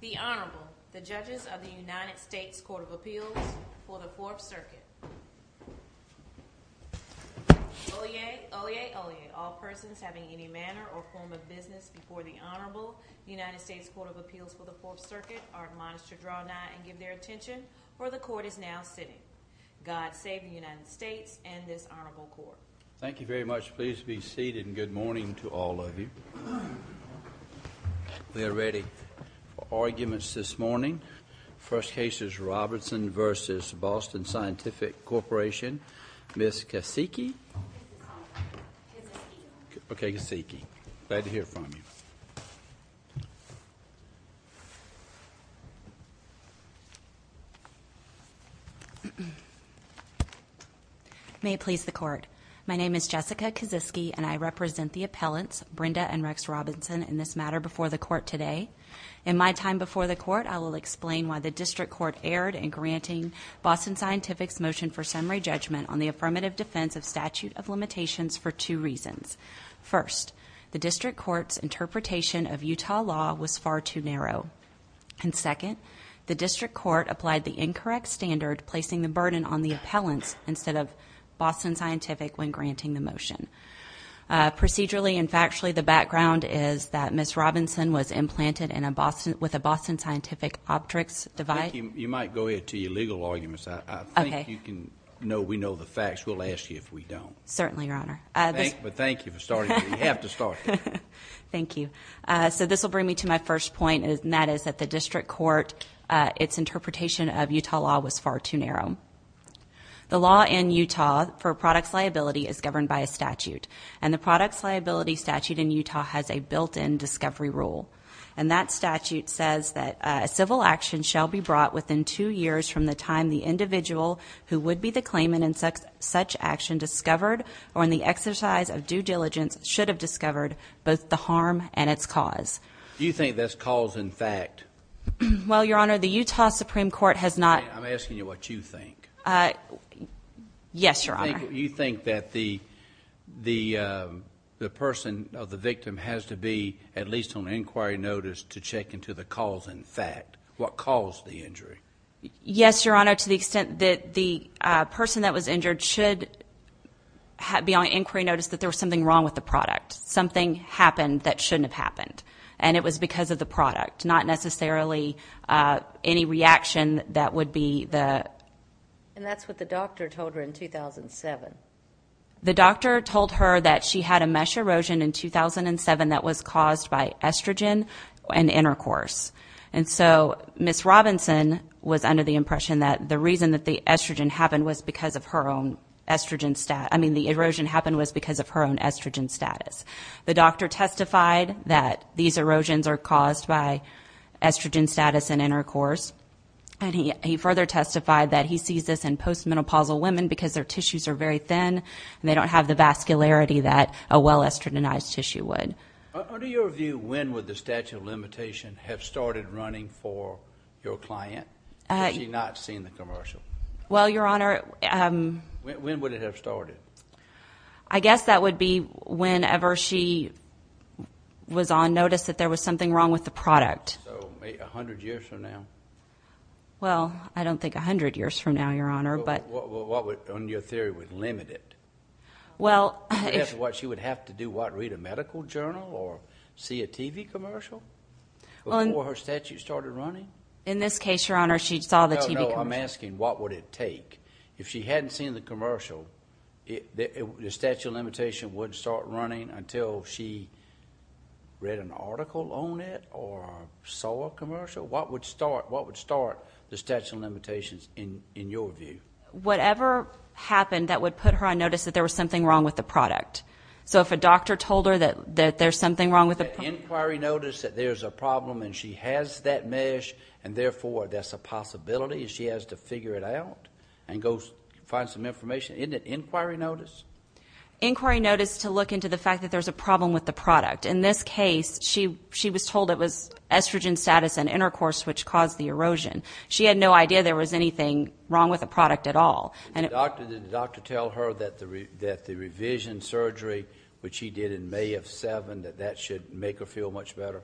The Honorable, the Judges of the United States Court of Appeals for the Fourth Circuit. Oyez, oyez, oyez, all persons having any manner or form of business before the Honorable, the United States Court of Appeals for the Fourth Circuit are admonished to draw nigh and give their attention where the Court is now sitting. God save the United States and this Honorable Court. Thank you very much. Please be seated and good morning to all of you. We are ready for arguments this morning. First case is Robinson v. Boston Scientific Corporation. Ms. Kosicki. Okay, Kosicki. Glad to hear from you. May it please the Court. My name is Jessica Kosicki and I represent the appellants, Brenda and Rex Robinson, in this matter before the Court today. In my time before the Court, I will explain why the District Court erred in granting Boston Scientific's motion for summary judgment on the affirmative defense of statute of limitations for two reasons. First, the District Court's interpretation of Utah law was far too narrow. And second, the District Court applied the incorrect standard placing the burden on the appellants instead of Boston Scientific when granting the motion. Procedurally and factually, the background is that Ms. Robinson was implanted with a Boston Scientific Optics device. You might go ahead to your legal arguments. I think you can... Okay. No, we know the facts. We'll ask you if we don't. Certainly, Your Honor. But thank you for starting. You have to start there. Thank you. So this will bring me to my first point and that is that the District Court, its interpretation of Utah law was far too narrow. The law in Utah for products liability is governed by a statute. And the products liability statute in Utah has a built-in discovery rule. And that statute says that a civil action shall be brought within two years from the time the individual who would be the claimant in such action discovered or in the exercise of due diligence should have discovered both the harm and its cause. Do you think that's cause and fact? Well, Your Honor, the Utah Supreme Court has not... I'm asking you what you think. Yes, Your Honor. You think that the person or the victim has to be at least on inquiry notice to check into the cause and fact, what caused the injury? Yes, Your Honor, to the extent that the person that was injured should be on inquiry notice that there was something wrong with the product. Something happened that shouldn't have happened. And it was because of the product, not necessarily any reaction that would be the... And that's what the doctor told her in 2007. The doctor told her that she had a mesh erosion in 2007 that was caused by estrogen and intercourse. And so Ms. Robinson was under the impression that the reason that the estrogen happened was because of her own estrogen... I mean the erosion happened was because of her own estrogen status. The doctor testified that these erosions are caused by estrogen status and intercourse. And he further testified that he sees this in post-menopausal women because their tissues are very thin. And they don't have the vascularity that a well-estrogenized tissue would. Under your view, when would the statute of limitation have started running for your client? Has she not seen the commercial? Well, Your Honor... When would it have started? I guess that would be whenever she was on notice that there was something wrong with the product. So, a hundred years from now? Well, I don't think a hundred years from now, Your Honor, but... Well, what would, under your theory, would limit it? Well... I guess what she would have to do, what, read a medical journal or see a TV commercial before her statute started running? In this case, Your Honor, she saw the TV commercial. No, no, I'm asking what would it take? If she hadn't seen the commercial, the statute of limitation wouldn't start running until she read an article on it or saw a commercial? What would start the statute of limitations in your view? Whatever happened that would put her on notice that there was something wrong with the product. So, if a doctor told her that there's something wrong with the... Inquiry notice that there's a problem and she has that mesh and, therefore, that's a possibility and she has to figure it out and go find some information? Isn't it inquiry notice? Inquiry notice to look into the fact that there's a problem with the product. In this case, she was told it was estrogen status and intercourse which caused the erosion. She had no idea there was anything wrong with the product at all. Did the doctor tell her that the revision surgery, which he did in May of 2007, that that should make her feel much better?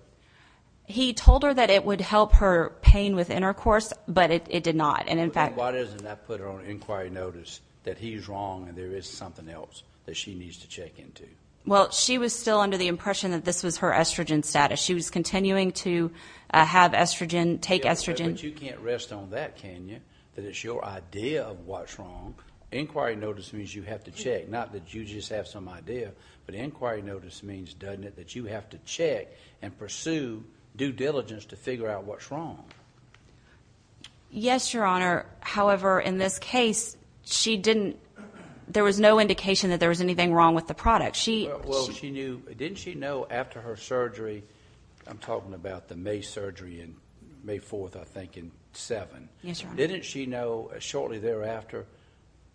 He told her that it would help her pain with intercourse, but it did not. Why doesn't that put her on inquiry notice that he's wrong and there is something else that she needs to check into? Well, she was still under the impression that this was her estrogen status. She was continuing to have estrogen, take estrogen. But you can't rest on that, can you, that it's your idea of what's wrong? Inquiry notice means you have to check, not that you just have some idea, but inquiry notice means, doesn't it, that you have to check and pursue due diligence to figure out what's wrong. Yes, Your Honor. However, in this case, she didn't... there was no indication that there was anything wrong with the product. Didn't she know after her surgery, I'm talking about the May surgery, May 4th, I think, and 7th. Yes, Your Honor. Didn't she know shortly thereafter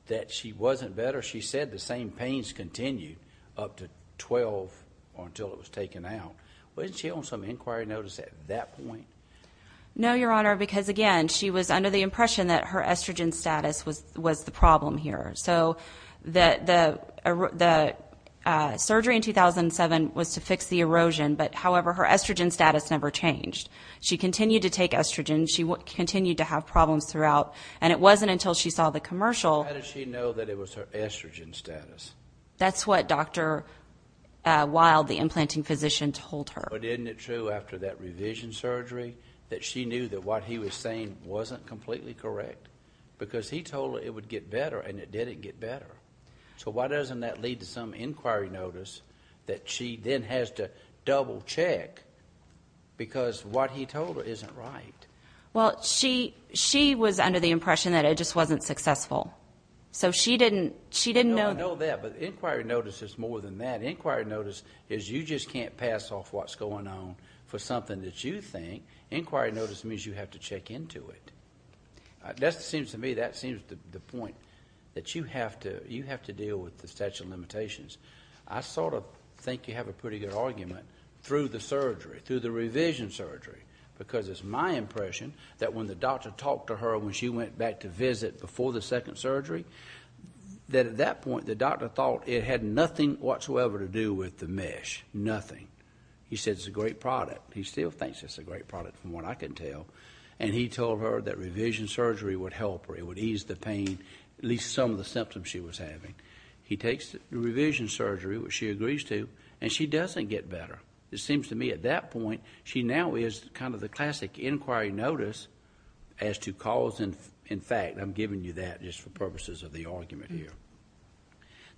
that she wasn't better? She said the same pains continued up to 12 until it was taken out. Wasn't she on some inquiry notice at that point? No, Your Honor, because, again, she was under the impression that her estrogen status was the problem here. So the surgery in 2007 was to fix the erosion, but, however, her estrogen status never changed. She continued to take estrogen. She continued to have problems throughout. And it wasn't until she saw the commercial... How did she know that it was her estrogen status? That's what Dr. Wild, the implanting physician, told her. But isn't it true after that revision surgery that she knew that what he was saying wasn't completely correct? Because he told her it would get better, and it didn't get better. So why doesn't that lead to some inquiry notice that she then has to double-check because what he told her isn't right? Well, she was under the impression that it just wasn't successful. So she didn't know... No, I know that, but inquiry notice is more than that. Inquiry notice is you just can't pass off what's going on for something that you think. Inquiry notice means you have to check into it. That seems to me, that seems the point, that you have to deal with the statute of limitations. I sort of think you have a pretty good argument through the surgery, through the revision surgery, because it's my impression that when the doctor talked to her when she went back to visit before the second surgery, that at that point the doctor thought it had nothing whatsoever to do with the mesh, nothing. He said it's a great product. He still thinks it's a great product from what I can tell. And he told her that revision surgery would help her. It would ease the pain, at least some of the symptoms she was having. He takes the revision surgery, which she agrees to, and she doesn't get better. It seems to me at that point she now is kind of the classic inquiry notice as to cause... In fact, I'm giving you that just for purposes of the argument here,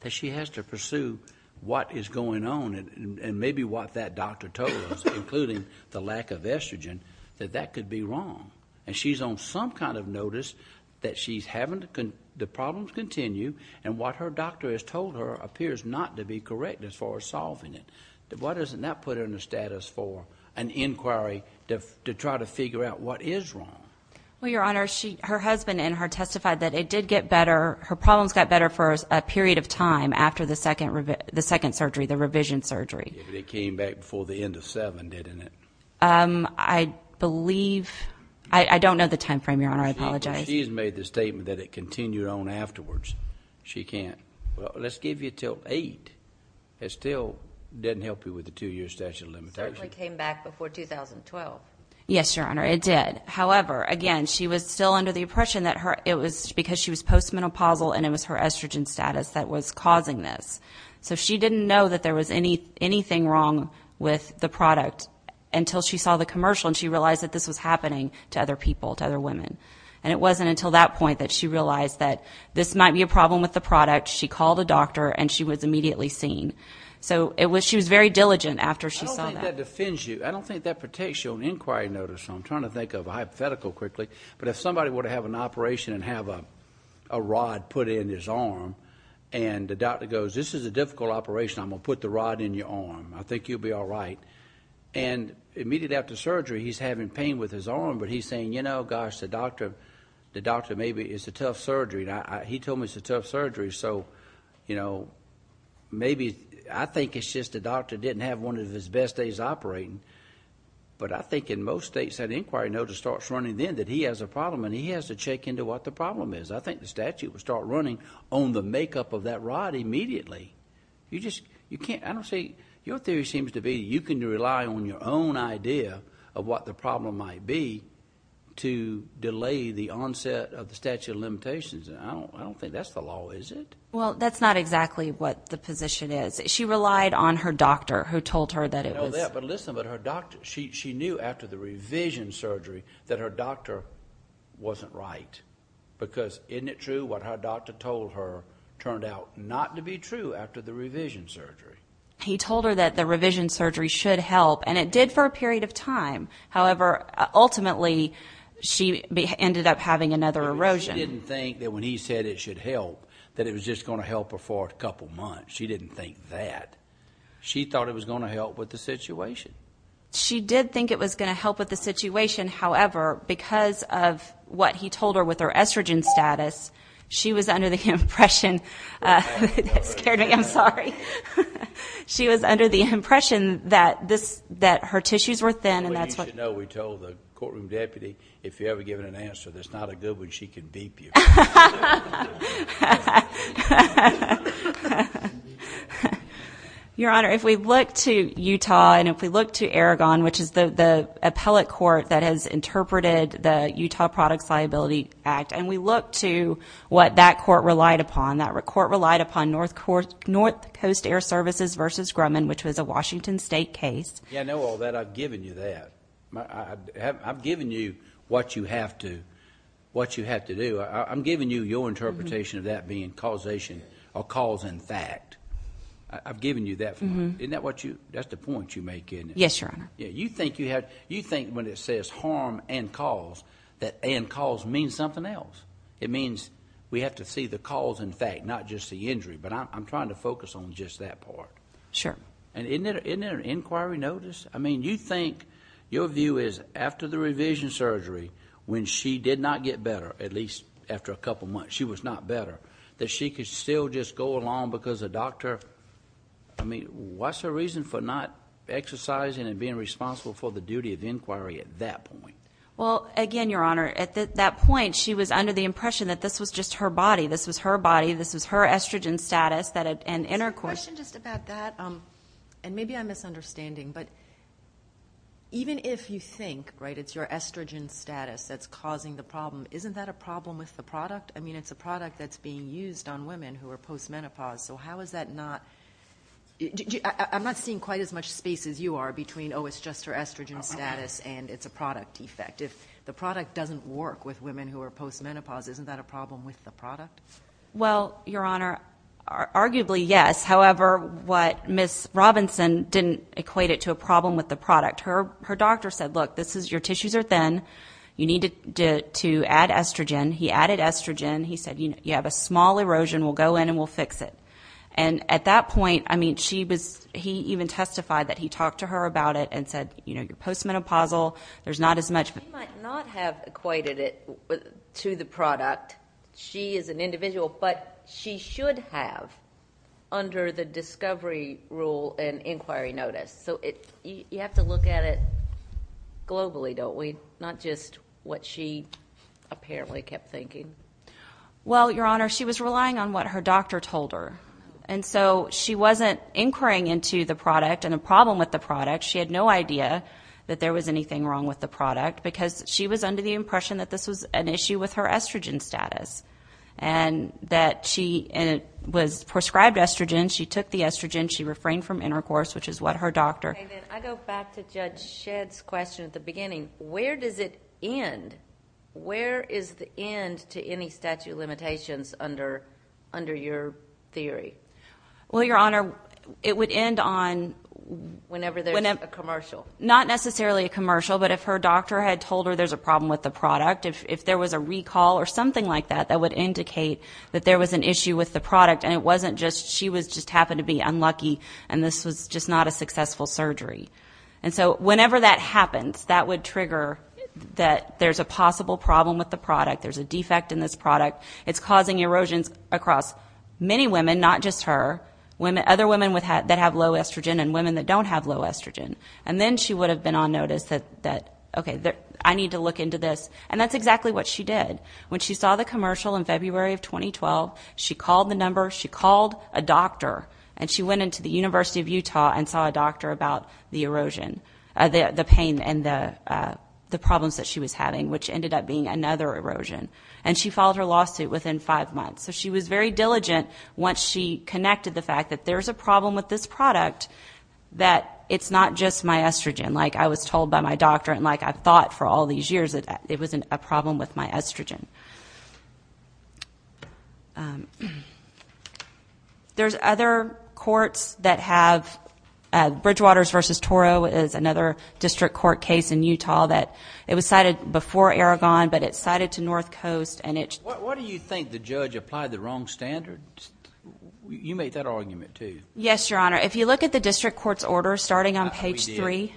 that she has to pursue what is going on and maybe what that doctor told her, including the lack of estrogen, that that could be wrong. And she's on some kind of notice that she's having the problems continue and what her doctor has told her appears not to be correct as far as solving it. Why doesn't that put her in the status for an inquiry to try to figure out what is wrong? Well, Your Honor, her husband and her testified that it did get better. Her problems got better for a period of time after the second surgery, the revision surgery. But it came back before the end of seven, didn't it? I believe... I don't know the time frame, Your Honor. I apologize. She has made the statement that it continued on afterwards. She can't... Well, let's give you until eight. It still doesn't help you with the two-year statute of limitations. It certainly came back before 2012. Yes, Your Honor, it did. However, again, she was still under the impression that it was because she was post-menopausal and it was her estrogen status that was causing this. So she didn't know that there was anything wrong with the product until she saw the commercial and she realized that this was happening to other people, to other women. And it wasn't until that point that she realized that this might be a problem with the product. She called a doctor and she was immediately seen. So she was very diligent after she saw that. I don't think that defends you. I don't think that protects you on inquiry notice. I'm trying to think of a hypothetical quickly. But if somebody were to have an operation and have a rod put in his arm and the doctor goes, this is a difficult operation. I'm going to put the rod in your arm. I think you'll be all right. And immediately after surgery, he's having pain with his arm. But he's saying, you know, gosh, the doctor maybe it's a tough surgery. He told me it's a tough surgery. So, you know, maybe I think it's just the doctor didn't have one of his best days operating. But I think in most states that inquiry notice starts running then that he has a problem and he has to check into what the problem is. I think the statute would start running on the makeup of that rod immediately. You just can't. I don't see. Your theory seems to be you can rely on your own idea of what the problem might be to delay the onset of the statute of limitations. I don't think that's the law, is it? Well, that's not exactly what the position is. She relied on her doctor who told her that it was. I know that, but listen. But her doctor, she knew after the revision surgery that her doctor wasn't right because isn't it true what her doctor told her turned out not to be true after the revision surgery? He told her that the revision surgery should help, and it did for a period of time. However, ultimately she ended up having another erosion. She didn't think that when he said it should help that it was just going to help her for a couple months. She didn't think that. She thought it was going to help with the situation. She did think it was going to help with the situation. However, because of what he told her with her estrogen status, she was under the impression That scared me. I'm sorry. She was under the impression that her tissues were thin. We told the courtroom deputy, if you ever give her an answer that's not a good one, she can beep you. Your Honor, if we look to Utah and if we look to Aragon, which is the appellate court that has interpreted the Utah Products Liability Act, and we look to what that court relied upon, that court relied upon North Coast Air Services v. Grumman, which was a Washington State case. Yeah, I know all that. I've given you that. I've given you what you have to do. I'm giving you your interpretation of that being causation or cause and fact. I've given you that. That's the point you make, isn't it? Yes, Your Honor. You think when it says harm and cause that and cause means something else. It means we have to see the cause and fact, not just the injury. But I'm trying to focus on just that part. Sure. Isn't there an inquiry notice? I mean, you think your view is after the revision surgery, when she did not get better, at least after a couple of months, she was not better, that she could still just go along because the doctor? I mean, what's her reason for not exercising and being responsible for the duty of inquiry at that point? Well, again, Your Honor, at that point, she was under the impression that this was just her body. This was her body. This was her estrogen status. Question just about that, and maybe I'm misunderstanding, but even if you think it's your estrogen status that's causing the problem, isn't that a problem with the product? I mean, it's a product that's being used on women who are postmenopause, so how is that not? I'm not seeing quite as much space as you are between, oh, it's just her estrogen status and it's a product effect. If the product doesn't work with women who are postmenopause, isn't that a problem with the product? Well, Your Honor, arguably, yes. However, what Ms. Robinson didn't equate it to a problem with the product. Her doctor said, look, your tissues are thin. You need to add estrogen. He added estrogen. He said, you have a small erosion. We'll go in and we'll fix it. And at that point, I mean, he even testified that he talked to her about it and said, you know, you're postmenopausal, there's not as much. He might not have equated it to the product. She is an individual, but she should have, under the discovery rule and inquiry notice. So you have to look at it globally, don't we? Not just what she apparently kept thinking. Well, Your Honor, she was relying on what her doctor told her. And so she wasn't inquiring into the product and a problem with the product. She had no idea that there was anything wrong with the product because she was under the impression that this was an issue with her estrogen status and that she was prescribed estrogen. She took the estrogen. She refrained from intercourse, which is what her doctor. I go back to Judge Shedd's question at the beginning. Where does it end? Where is the end to any statute of limitations under your theory? Well, Your Honor, it would end on whenever there's a commercial. Not necessarily a commercial, but if her doctor had told her there's a problem with the product, if there was a recall or something like that that would indicate that there was an issue with the product and it wasn't just she just happened to be unlucky and this was just not a successful surgery. And so whenever that happens, that would trigger that there's a possible problem with the product, there's a defect in this product. It's causing erosions across many women, not just her, other women that have low estrogen and women that don't have low estrogen. And then she would have been on notice that, okay, I need to look into this. And that's exactly what she did. When she saw the commercial in February of 2012, she called the number, she called a doctor, and she went into the University of Utah and saw a doctor about the erosion, the pain and the problems that she was having, which ended up being another erosion. And she filed her lawsuit within five months. So she was very diligent once she connected the fact that there's a problem with this product, that it's not just my estrogen, like I was told by my doctor, and like I thought for all these years that it was a problem with my estrogen. There's other courts that have Bridgewaters v. Toro is another district court case in Utah that it was cited before Aragon, but it's cited to North Coast. Why do you think the judge applied the wrong standards? You made that argument, too. Yes, Your Honor. If you look at the district court's order starting on page three,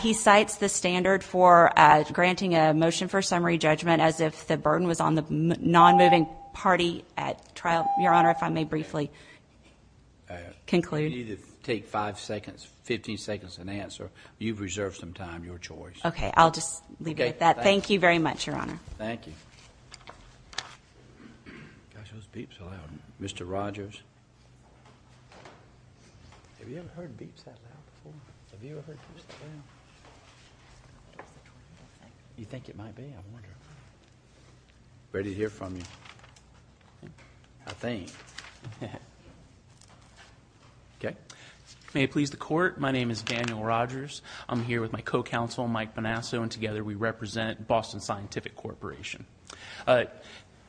he cites the standard for granting a motion for summary judgment as if the burden was on the non-moving party at trial. Your Honor, if I may briefly conclude. You need to take five seconds, 15 seconds and answer. You've reserved some time, your choice. Okay, I'll just leave it at that. Thank you very much, Your Honor. Thank you. Gosh, those beeps are loud. Mr. Rogers? Have you ever heard beeps that loud before? Have you ever heard beeps that loud? You think it might be? I wonder. Ready to hear from you. I think. May it please the Court, my name is Daniel Rogers. I'm here with my co-counsel, Mike Bonasso, and together we represent Boston Scientific Corporation.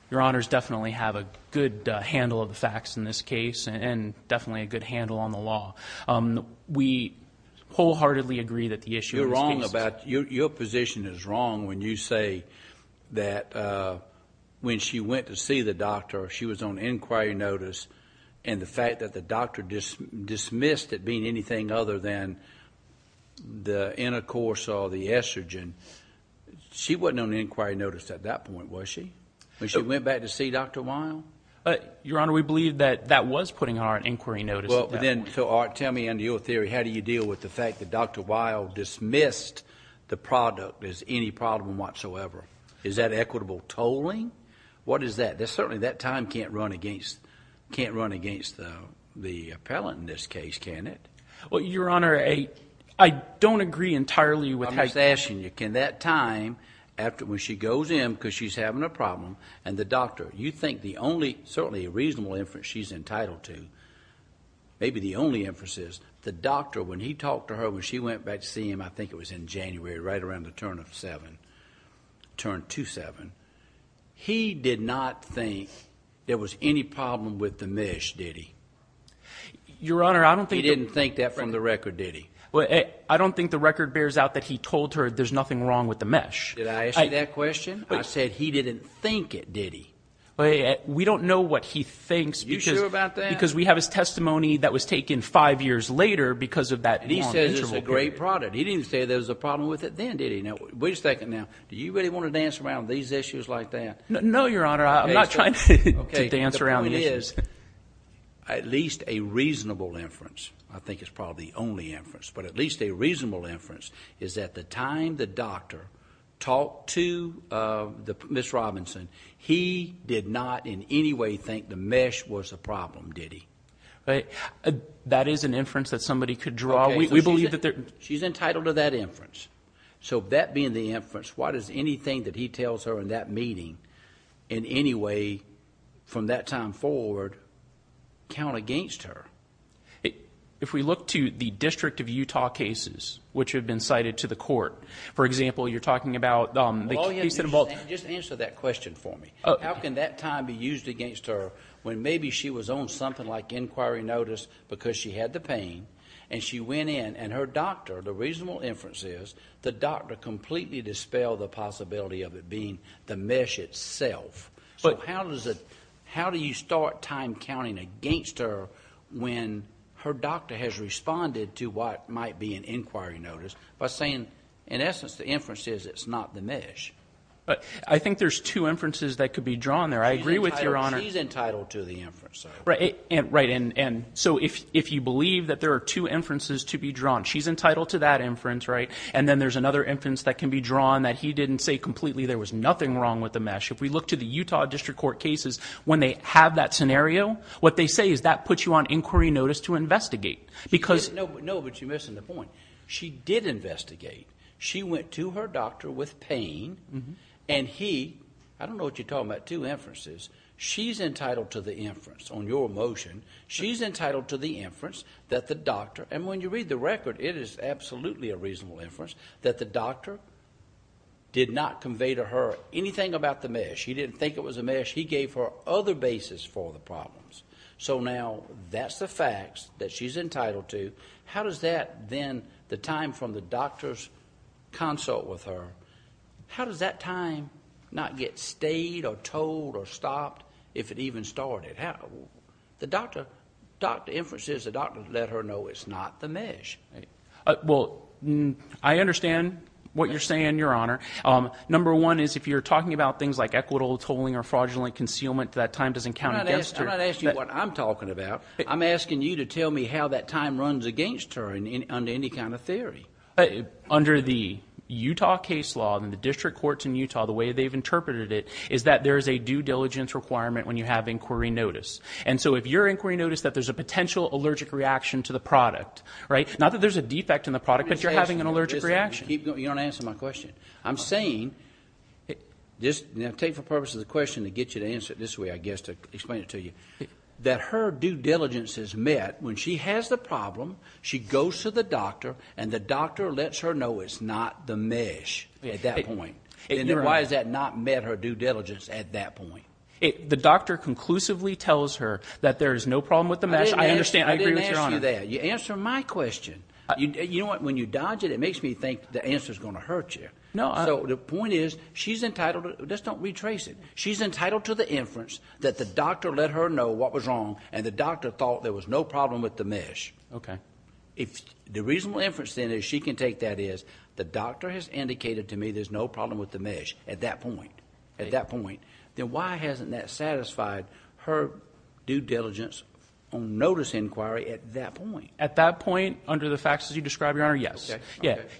Your Honors definitely have a good handle of the facts in this case and definitely a good handle on the law. We wholeheartedly agree that the issue in this case... You're wrong about... Your position is wrong when you say that when she went to see the doctor, she was on inquiry notice, and the fact that the doctor dismissed it being anything other than the cortisol, the estrogen, she wasn't on inquiry notice at that point, was she? When she went back to see Dr. Weil? Your Honor, we believe that that was putting her on inquiry notice at that point. Tell me, under your theory, how do you deal with the fact that Dr. Weil dismissed the product as any problem whatsoever? Is that equitable tolling? What is that? Certainly that time can't run against the appellant in this case, can it? Your Honor, I don't agree entirely with... I'm just asking you, can that time when she goes in because she's having a problem and the doctor, you think the only, certainly a reasonable inference she's entitled to, maybe the only inference is the doctor, when he talked to her when she went back to see him, I think it was in January, right around the turn of seven, turn two-seven, he did not think there was any problem with the mish, did he? Your Honor, I don't think... He didn't think that from the record, did he? I don't think the record bears out that he told her there's nothing wrong with the mish. Did I ask you that question? I said he didn't think it, did he? We don't know what he thinks... Are you sure about that?... because we have his testimony that was taken five years later because of that... And he says it's a great product. He didn't say there was a problem with it then, did he? Now, wait a second now. Do you really want to dance around these issues like that? No, Your Honor. I'm not trying to dance around the issues. At least a reasonable inference, I think is probably the only inference, but at least a reasonable inference is that the time the doctor talked to Ms. Robinson, he did not in any way think the mish was a problem, did he? That is an inference that somebody could draw. We believe that there... She's entitled to that inference. So that being the inference, what is anything that he tells her in that meeting in any way from that time forward count against her? If we look to the District of Utah cases which have been cited to the court, for example, you're talking about the case in... Just answer that question for me. How can that time be used against her when maybe she was on something like inquiry notice because she had the pain and she went in and her doctor, the reasonable inference is, the doctor completely dispelled the possibility of it being the mish itself. So how do you start time counting against her when her doctor has responded to what might be an inquiry notice by saying in essence the inference is it's not the mish? I think there's two inferences that could be drawn there. I agree with Your Honor... She's entitled to the inference. Right, and so if you believe that there are two inferences to be drawn, she's entitled to that inference, right? And then there's another inference that can be drawn that he didn't say completely there was nothing wrong with the mish. If we look to the Utah District Court cases when they have that scenario, what they say is that puts you on inquiry notice to investigate because... No, but you're missing the point. She did investigate. She went to her doctor with pain and he... I don't know what you're talking about, two inferences. She's entitled to the inference on your motion. She's entitled to the inference that the doctor... did not convey to her anything about the mish. He didn't think it was a mish. He gave her other basis for the problems. So now that's the facts that she's entitled to. How does that then, the time from the doctor's consult with her, how does that time not get stayed or told or stopped if it even started? The doctor inferences, the doctor let her know it's not the mish. Well, I understand what you're saying, Your Honor. Number one is if you're talking about things like equitable tolling or fraudulent concealment, that time doesn't count against her. I'm not asking you what I'm talking about. I'm asking you to tell me how that time runs against her under any kind of theory. Under the Utah case law and the district courts in Utah, the way they've interpreted it, is that there is a due diligence requirement when you have inquiry notice. And so if your inquiry notice that there's a potential allergic reaction to the product, right, not that there's a defect in the product, but you're having an allergic reaction. You don't answer my question. I'm saying, and I take the purpose of the question to get you to answer it this way, I guess, to explain it to you, that her due diligence is met when she has the problem, she goes to the doctor, and the doctor lets her know it's not the mish at that point. Then why has that not met her due diligence at that point? The doctor conclusively tells her that there is no problem with the mish. I understand. I agree with your Honor. I didn't ask you that. You answer my question. You know what? When you dodge it, it makes me think the answer is going to hurt you. No. So the point is she's entitled to it. Just don't retrace it. She's entitled to the inference that the doctor let her know what was wrong, and the doctor thought there was no problem with the mish. Okay. The reasonable inference, then, that she can take that is the doctor has indicated to me there's no problem with the mish at that point. Then why hasn't that satisfied her due diligence on notice inquiry at that point? At that point, under the facts as you describe, Your Honor, yes.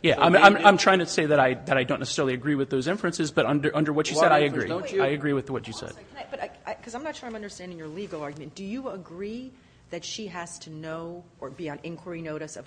I'm trying to say that I don't necessarily agree with those inferences, but under what you said, I agree. I agree with what you said. Because I'm not sure I'm understanding your legal argument. Do you agree that she has to know or be on inquiry notice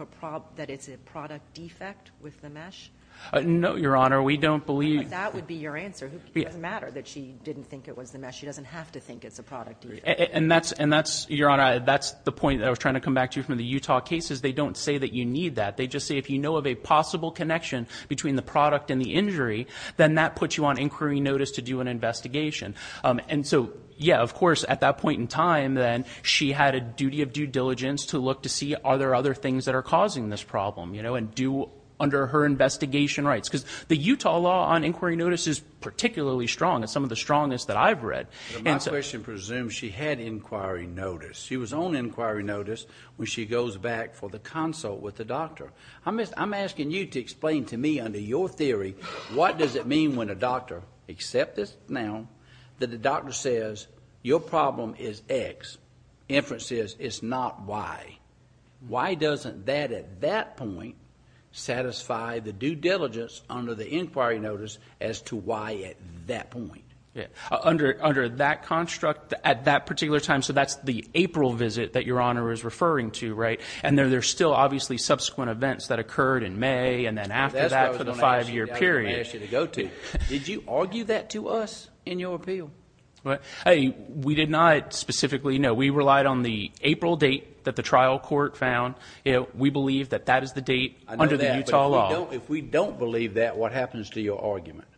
that it's a product defect with the mish? No, Your Honor. We don't believe – That would be your answer. It doesn't matter that she didn't think it was the mish. She doesn't have to think it's a product defect. And that's, Your Honor, that's the point that I was trying to come back to from the Utah cases. They don't say that you need that. They just say if you know of a possible connection between the product and the injury, then that puts you on inquiry notice to do an investigation. And so, yeah, of course, at that point in time, then, she had a duty of due diligence to look to see are there other things that are causing this problem, you know, and do under her investigation rights. Because the Utah law on inquiry notice is particularly strong. It's some of the strongest that I've read. My question presumes she had inquiry notice. She was on inquiry notice when she goes back for the consult with the doctor. I'm asking you to explain to me under your theory what does it mean when a doctor accepts this now that the doctor says your problem is X. Inference says it's not Y. Why doesn't that at that point satisfy the due diligence under the inquiry notice as to why at that point? Yeah. Under that construct at that particular time, so that's the April visit that Your Honor is referring to, right? And there are still obviously subsequent events that occurred in May and then after that for the five-year period. That's what I was going to ask you to go to. Did you argue that to us in your appeal? Hey, we did not specifically, no. We relied on the April date that the trial court found. We believe that that is the date under the Utah law. If we don't believe that, what happens to your argument?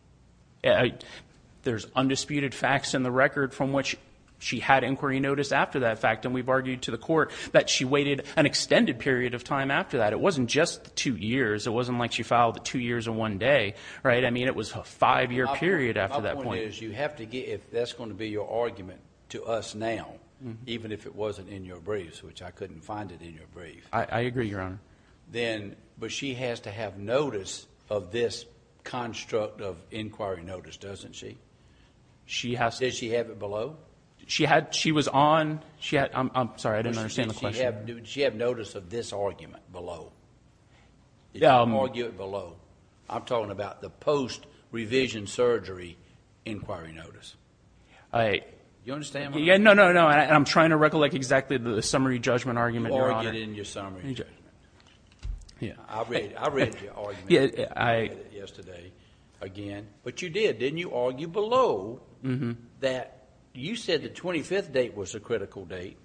There's undisputed facts in the record from which she had inquiry notice after that fact, and we've argued to the court that she waited an extended period of time after that. It wasn't just two years. It wasn't like she filed two years in one day, right? I mean it was a five-year period after that point. If that's going to be your argument to us now, even if it wasn't in your briefs, which I couldn't find it in your briefs. I agree, Your Honor. But she has to have notice of this construct of inquiry notice, doesn't she? Does she have it below? She was on. I'm sorry. I didn't understand the question. Does she have notice of this argument below? Did you argue it below? I'm talking about the post-revision surgery inquiry notice. Do you understand what I'm saying? No, no, no. I'm trying to recollect exactly the summary judgment argument, Your Honor. You argued in your summary judgment. I read your argument yesterday again, but you did, didn't you? You argued below that you said the 25th date was a critical date,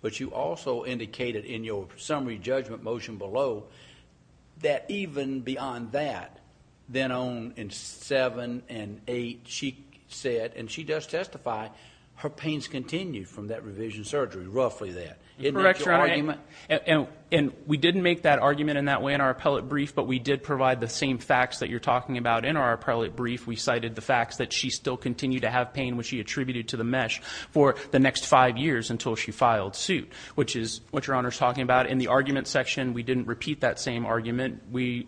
but you also indicated in your summary judgment motion below that even beyond that, then on in seven and eight, she said, and she does testify, her pains continued from that revision surgery, roughly that. Isn't that your argument? And we didn't make that argument in that way in our appellate brief, but we did provide the same facts that you're talking about in our appellate brief. We cited the facts that she still continued to have pain, which she attributed to the mesh, for the next five years until she filed suit, which is what Your Honor is talking about. In the argument section, we didn't repeat that same argument. We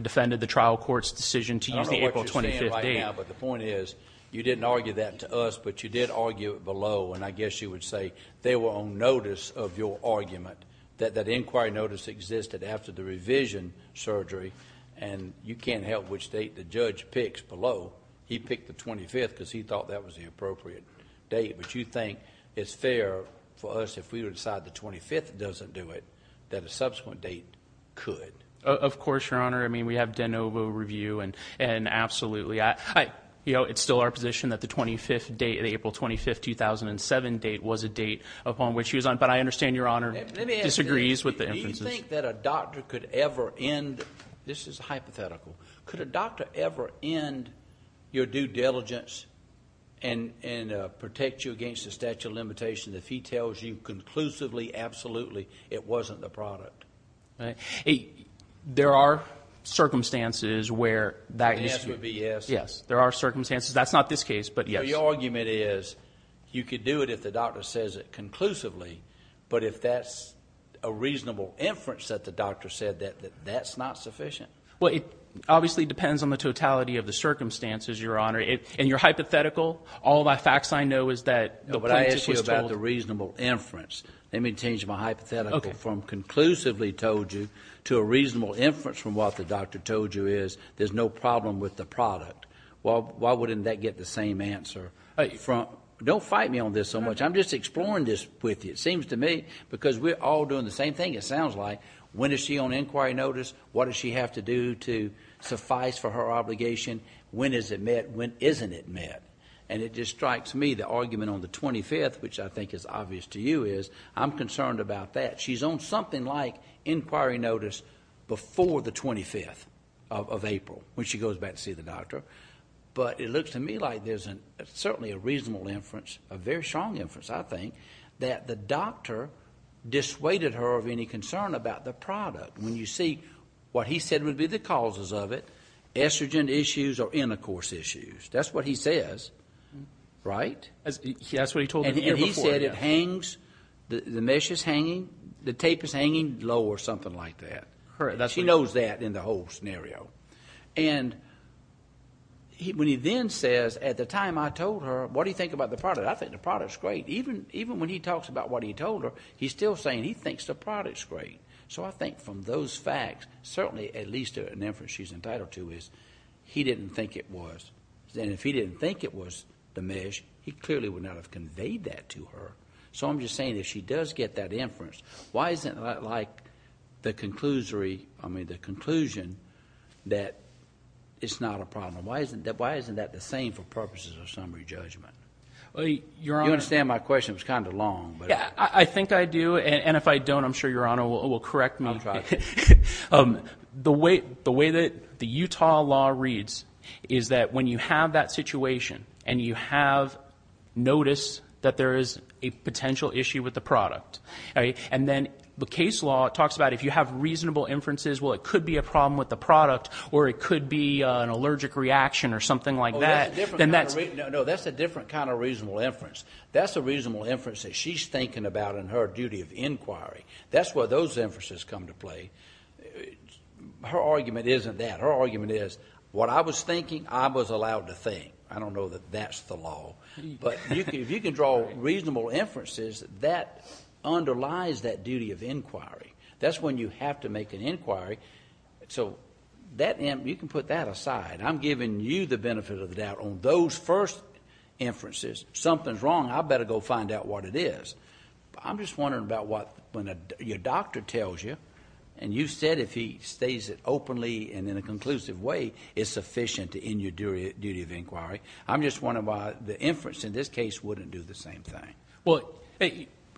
defended the trial court's decision to use the April 25th date. I don't know what you're saying right now, but the point is you didn't argue that to us, but you did argue it below, and I guess you would say they were on notice of your argument, that that inquiry notice existed after the revision surgery, and you can't help which date the judge picks below. He picked the 25th because he thought that was the appropriate date, but you think it's fair for us, if we decide the 25th doesn't do it, that a subsequent date could? Of course, Your Honor. I mean, we have de novo review, and absolutely. You know, it's still our position that the 25th date, the April 25, 2007 date, was a date upon which she was on, but I understand Your Honor disagrees with the inferences. Do you think that a doctor could ever end, this is hypothetical, could a doctor ever end your due diligence and protect you against the statute of limitations if he tells you conclusively, absolutely, it wasn't the product? There are circumstances where that is true. The answer would be yes. Yes, there are circumstances. That's not this case, but yes. So your argument is you could do it if the doctor says it conclusively, but if that's a reasonable inference that the doctor said, that's not sufficient? Well, it obviously depends on the totality of the circumstances, Your Honor, and your hypothetical, all the facts I know is that the plaintiff was told. No, but I asked you about the reasonable inference. Let me change my hypothetical from conclusively told you to a reasonable inference from what the doctor told you is there's no problem with the product. Why wouldn't that get the same answer? Don't fight me on this so much. I'm just exploring this with you, it seems to me, because we're all doing the same thing it sounds like. When is she on inquiry notice? What does she have to do to suffice for her obligation? When is it met? When isn't it met? And it just strikes me the argument on the 25th, which I think is obvious to you, is I'm concerned about that. She's on something like inquiry notice before the 25th of April when she goes back to see the doctor. But it looks to me like there's certainly a reasonable inference, a very strong inference, I think, that the doctor dissuaded her of any concern about the product. When you see what he said would be the causes of it, estrogen issues or intercourse issues, that's what he says, right? That's what he told me the year before. And he said it hangs, the mesh is hanging, the tape is hanging low or something like that. She knows that in the whole scenario. When he then says, at the time I told her, what do you think about the product? I think the product's great. Even when he talks about what he told her, he's still saying he thinks the product's great. So I think from those facts, certainly at least an inference she's entitled to, is he didn't think it was. And if he didn't think it was the mesh, he clearly would not have conveyed that to her. So I'm just saying if she does get that inference, why isn't it like the conclusion that it's not a problem? Why isn't that the same for purposes of summary judgment? You understand my question. It was kind of long. I think I do, and if I don't, I'm sure Your Honor will correct me. I'll try. The way that the Utah law reads is that when you have that situation and you have noticed that there is a potential issue with the product, and then the case law talks about if you have reasonable inferences, well, it could be a problem with the product or it could be an allergic reaction or something like that. No, that's a different kind of reasonable inference. That's a reasonable inference that she's thinking about in her duty of inquiry. That's where those inferences come to play. Her argument isn't that. Her argument is, what I was thinking, I was allowed to think. I don't know that that's the law. If you can draw reasonable inferences, that underlies that duty of inquiry. That's when you have to make an inquiry. You can put that aside. I'm giving you the benefit of the doubt on those first inferences. Something's wrong. I better go find out what it is. I'm just wondering about when your doctor tells you, and you said if he states it openly and in a conclusive way, it's sufficient to end your duty of inquiry. I'm just wondering about the inference in this case wouldn't do the same thing. Well,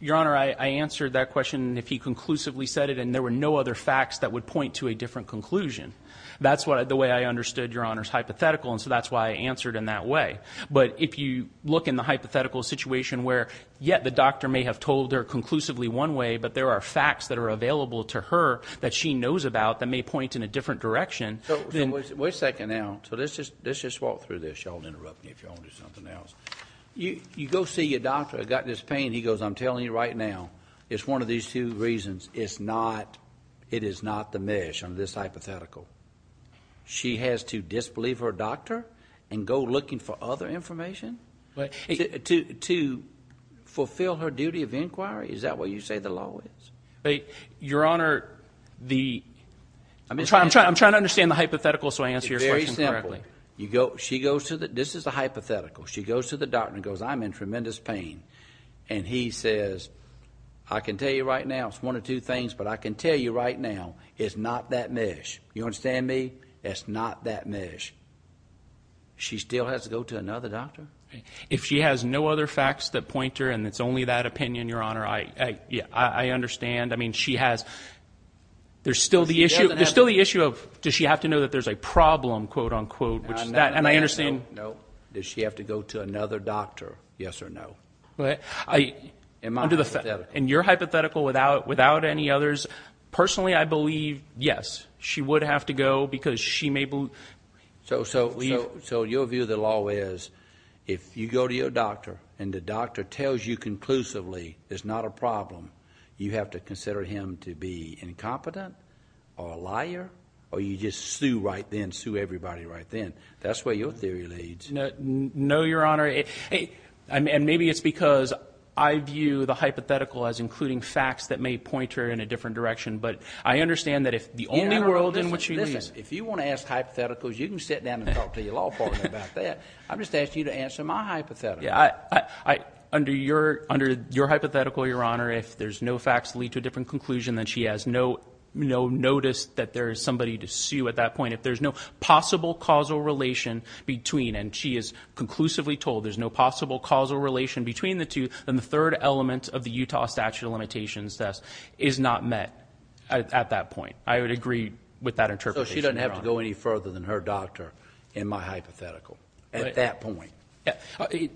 Your Honor, I answered that question if he conclusively said it and there were no other facts that would point to a different conclusion. That's the way I understood Your Honor's hypothetical, and so that's why I answered in that way. But if you look in the hypothetical situation where, yeah, the doctor may have told her conclusively one way, but there are facts that are available to her that she knows about that may point in a different direction. Wait a second now. So let's just walk through this. You all interrupt me if you all want to do something else. You go see your doctor. I've got this pain. He goes, I'm telling you right now, it's one of these two reasons. It is not the mesh on this hypothetical. She has to disbelieve her doctor and go looking for other information to fulfill her duty of inquiry? Is that what you say the law is? Your Honor, I'm trying to understand the hypothetical so I answer your question correctly. It's very simple. This is a hypothetical. She goes to the doctor and goes, I'm in tremendous pain, and he says, I can tell you right now, it's one of two things, but I can tell you right now, it's not that mesh. You understand me? It's not that mesh. She still has to go to another doctor? If she has no other facts that point to her and it's only that opinion, Your Honor, I understand. I mean, there's still the issue of does she have to know that there's a problem, quote-unquote, and I understand. No. Does she have to go to another doctor, yes or no? Am I hypothetical? In your hypothetical, without any others, personally, I believe yes. She would have to go because she may believe. So your view of the law is if you go to your doctor and the doctor tells you conclusively there's not a problem, you have to consider him to be incompetent or a liar or you just sue right then, sue everybody right then. That's where your theory leads. No, Your Honor, and maybe it's because I view the hypothetical as including facts that may point her in a different direction, but I understand that if the only world in which she lives... If you want to ask hypotheticals, you can sit down and talk to your law partner about that. I'm just asking you to answer my hypothetical. Yeah, under your hypothetical, Your Honor, if there's no facts that lead to a different conclusion, then she has no notice that there is somebody to sue at that point. If there's no possible causal relation between, and she is conclusively told there's no possible causal relation between the two, then the third element of the Utah statute of limitations test is not met at that point. I would agree with that interpretation, Your Honor. I don't have to go any further than her doctor in my hypothetical at that point.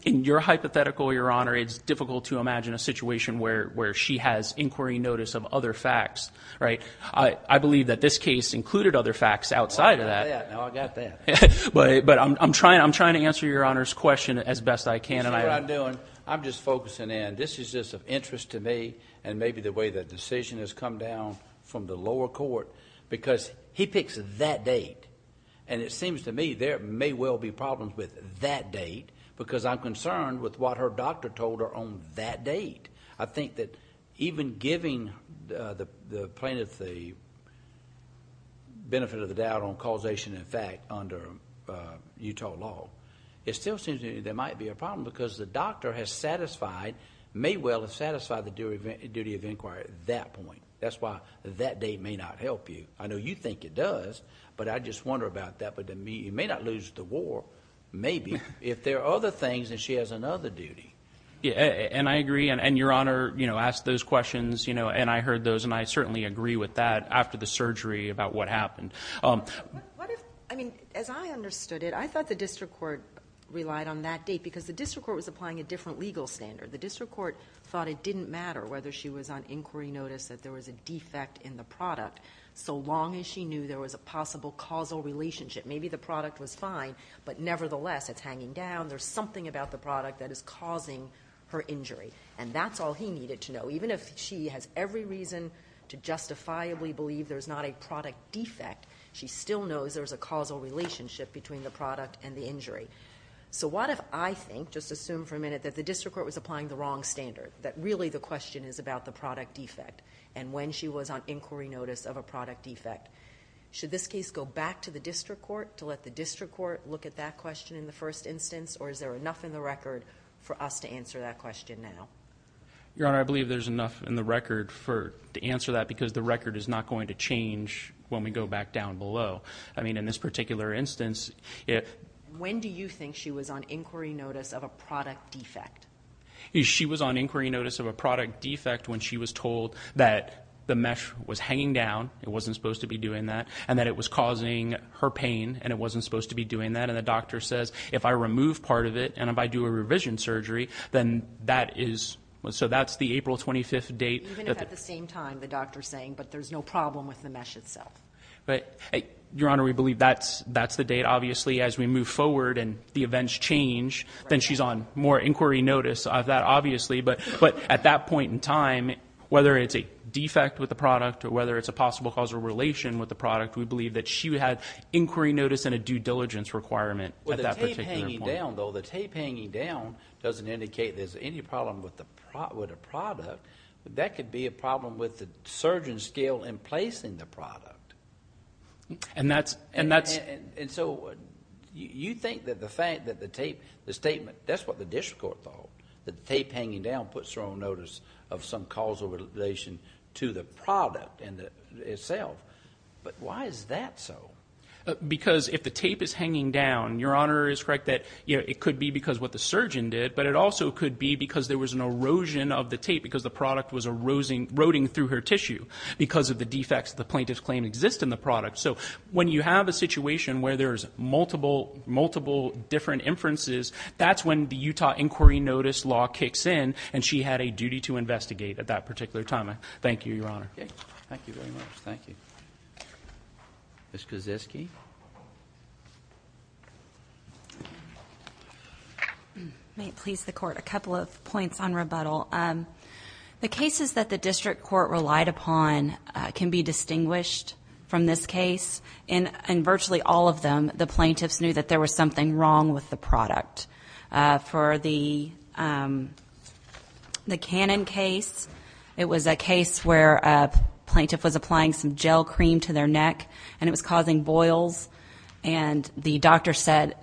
In your hypothetical, Your Honor, it's difficult to imagine a situation where she has inquiry notice of other facts, right? I believe that this case included other facts outside of that. Now I got that. But I'm trying to answer Your Honor's question as best I can. You see what I'm doing? I'm just focusing in. This is just of interest to me and maybe the way the decision has come down from the lower court because he picks that date and it seems to me there may well be problems with that date because I'm concerned with what her doctor told her on that date. I think that even giving the plaintiff the benefit of the doubt on causation and fact under Utah law, it still seems to me there might be a problem because the doctor has satisfied, may well have satisfied the duty of inquiry at that point. That's why that date may not help you. I know you think it does, but I just wonder about that. It may not lose the war, maybe, if there are other things and she has another duty. I agree. Your Honor asked those questions and I heard those and I certainly agree with that after the surgery about what happened. As I understood it, I thought the district court relied on that date because the district court was applying a different legal standard. The district court thought it didn't matter whether she was on inquiry notice that there was a defect in the product so long as she knew there was a possible causal relationship. Maybe the product was fine, but nevertheless, it's hanging down. There's something about the product that is causing her injury and that's all he needed to know. Even if she has every reason to justifiably believe there's not a product defect, she still knows there's a causal relationship between the product and the injury. What if I think, just assume for a minute, that the district court was applying the wrong standard, that really the question is about the product defect and when she was on inquiry notice of a product defect? Should this case go back to the district court to let the district court look at that question in the first instance or is there enough in the record for us to answer that question now? Your Honor, I believe there's enough in the record to answer that because the record is not going to change when we go back down below. I mean, in this particular instance... When do you think she was on inquiry notice of a product defect? She was on inquiry notice of a product defect when she was told that the mesh was hanging down, it wasn't supposed to be doing that, and that it was causing her pain and it wasn't supposed to be doing that. And the doctor says, if I remove part of it and if I do a revision surgery, then that is... So that's the April 25th date... Even if at the same time the doctor's saying, but there's no problem with the mesh itself. Your Honor, we believe that's the date. Obviously, as we move forward and the events change, then she's on more inquiry notice of that, obviously. But at that point in time, whether it's a defect with the product or whether it's a possible causal relation with the product, we believe that she had inquiry notice and a due diligence requirement at that particular point. With the tape hanging down, though, the tape hanging down doesn't indicate there's any problem with the product. That could be a problem with the surgeon's skill in placing the product. And that's... And so you think that the fact that the tape, the statement, that's what the district court thought, that the tape hanging down puts her on notice of some causal relation to the product itself. But why is that so? Because if the tape is hanging down, Your Honor is correct that it could be because what the surgeon did, but it also could be because there was an erosion of the tape because the product was eroding through her tissue because of the defects the plaintiff claimed exist in the product. So when you have a situation where there's multiple, multiple different inferences, that's when the Utah inquiry notice law kicks in and she had a duty to investigate at that particular time. Thank you, Your Honor. Thank you very much. Thank you. Ms. Kaczewski? Ms. Kaczewski? May it please the Court, a couple of points on rebuttal. The cases that the district court relied upon can be distinguished from this case. In virtually all of them, the plaintiffs knew that there was something wrong with the product. For the Cannon case, it was a case where a plaintiff was applying some gel cream to their neck and it was causing boils, and the doctor said,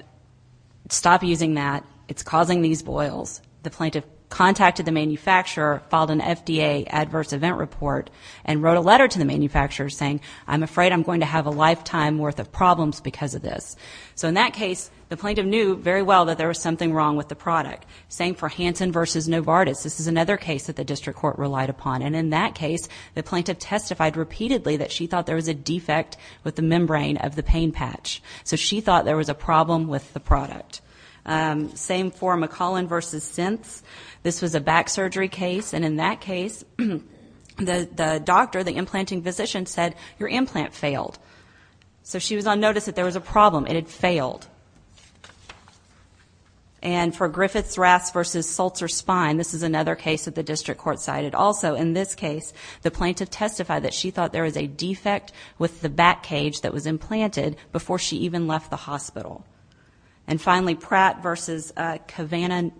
stop using that, it's causing these boils. The plaintiff contacted the manufacturer, filed an FDA adverse event report, and wrote a letter to the manufacturer saying, I'm afraid I'm going to have a lifetime worth of problems because of this. So in that case, the plaintiff knew very well that there was something wrong with the product. Same for Hansen v. Novartis. This is another case that the district court relied upon, and in that case, the plaintiff testified repeatedly that she thought there was a defect with the membrane of the pain patch. So she thought there was a problem with the product. Same for McCollin v. Synths. This was a back surgery case, and in that case, the doctor, the implanting physician, said, your implant failed. So she was on notice that there was a problem. It had failed. And for Griffiths-Raths v. Sulzer-Spine, this is another case that the district court cited. But also, in this case, the plaintiff testified that she thought there was a defect with the back cage that was implanted before she even left the hospital. And finally, Pratt v. Cavanaugh,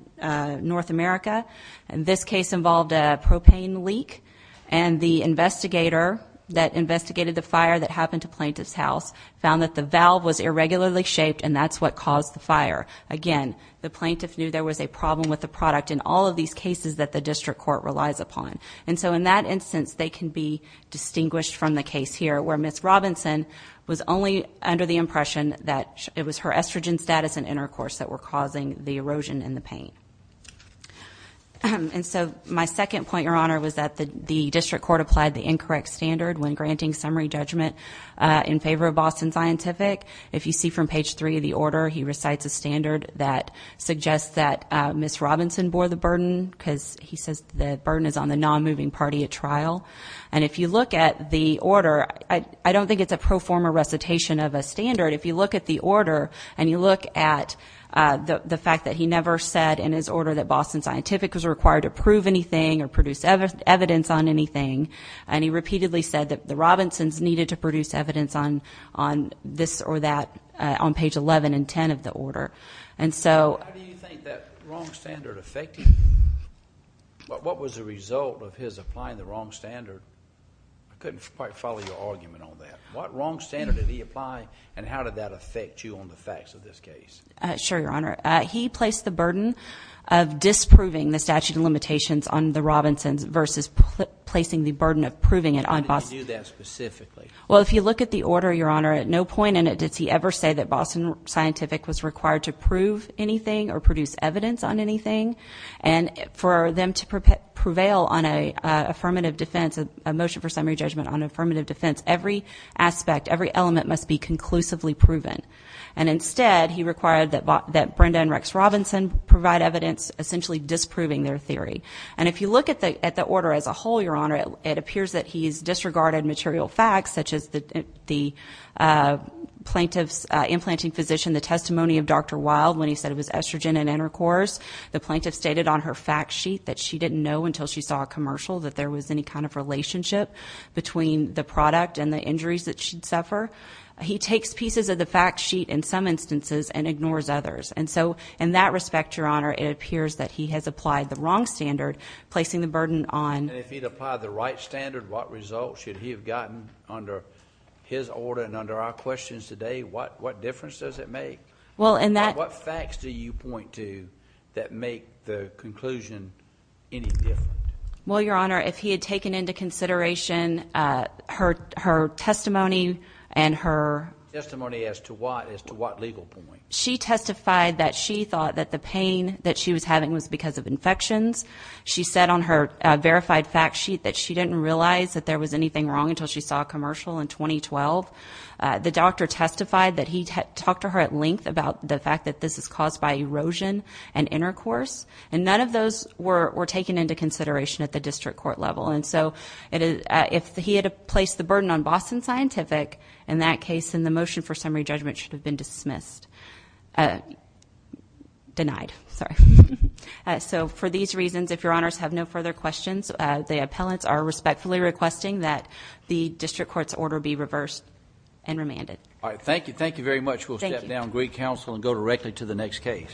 North America. This case involved a propane leak, and the investigator that investigated the fire that happened to plaintiff's house found that the valve was irregularly shaped, and that's what caused the fire. Again, the plaintiff knew there was a problem with the product in all of these cases that the district court relies upon. And so in that instance, they can be distinguished from the case here, where Ms. Robinson was only under the impression that it was her estrogen status and intercourse that were causing the erosion in the pain. And so my second point, Your Honor, was that the district court applied the incorrect standard when granting summary judgment in favor of Boston Scientific. If you see from page 3 of the order, he recites a standard that suggests that Ms. Robinson bore the burden because he says the burden is on the non-moving party at trial. And if you look at the order, I don't think it's a pro forma recitation of a standard. If you look at the order and you look at the fact that he never said in his order that Boston Scientific was required to prove anything or produce evidence on anything, and he repeatedly said that the Robinsons needed to produce evidence on this or that on page 11 and 10 of the order. How do you think that wrong standard affected him? What was the result of his applying the wrong standard? I couldn't quite follow your argument on that. What wrong standard did he apply, and how did that affect you on the facts of this case? Sure, Your Honor. He placed the burden of disproving the statute of limitations on the Robinsons versus placing the burden of proving it on Boston Scientific. How did he do that specifically? Well, if you look at the order, Your Honor, at no point in it did he ever say that Boston Scientific was required to prove anything or produce evidence on anything. And for them to prevail on an affirmative defense, a motion for summary judgment on an affirmative defense, every aspect, every element must be conclusively proven. And instead, he required that Brenda and Rex Robinson provide evidence essentially disproving their theory. And if you look at the order as a whole, Your Honor, it appears that he's disregarded material facts, such as the plaintiff's implanting physician, the testimony of Dr. Wild when he said it was estrogen and intercourse. The plaintiff stated on her fact sheet that she didn't know until she saw a commercial that there was any kind of relationship between the product and the injuries that she'd suffer. He takes pieces of the fact sheet in some instances and ignores others. And so, in that respect, Your Honor, it appears that he has applied the wrong standard, placing the burden on... And if he'd applied the right standard, what results should he have gotten under his order and under our questions today? What difference does it make? Well, in that... What facts do you point to that make the conclusion any different? Well, Your Honor, if he had taken into consideration her testimony and her... Testimony as to what? As to what legal point? She testified that she thought that the pain that she was having was because of infections. She said on her verified fact sheet that she didn't realize that there was anything wrong until she saw a commercial in 2012. The doctor testified that he talked to her at length about the fact that this is caused by erosion and intercourse. And none of those were taken into consideration at the district court level. And so, if he had placed the burden on Boston Scientific, in that case, then the motion for summary judgment should have been dismissed. Denied. Sorry. So, for these reasons, if Your Honors have no further questions, the appellants are respectfully requesting that the district court's order be reversed and remanded. All right. Thank you. Thank you very much. Thank you. We will take it down to Greek Council and go directly to the next case.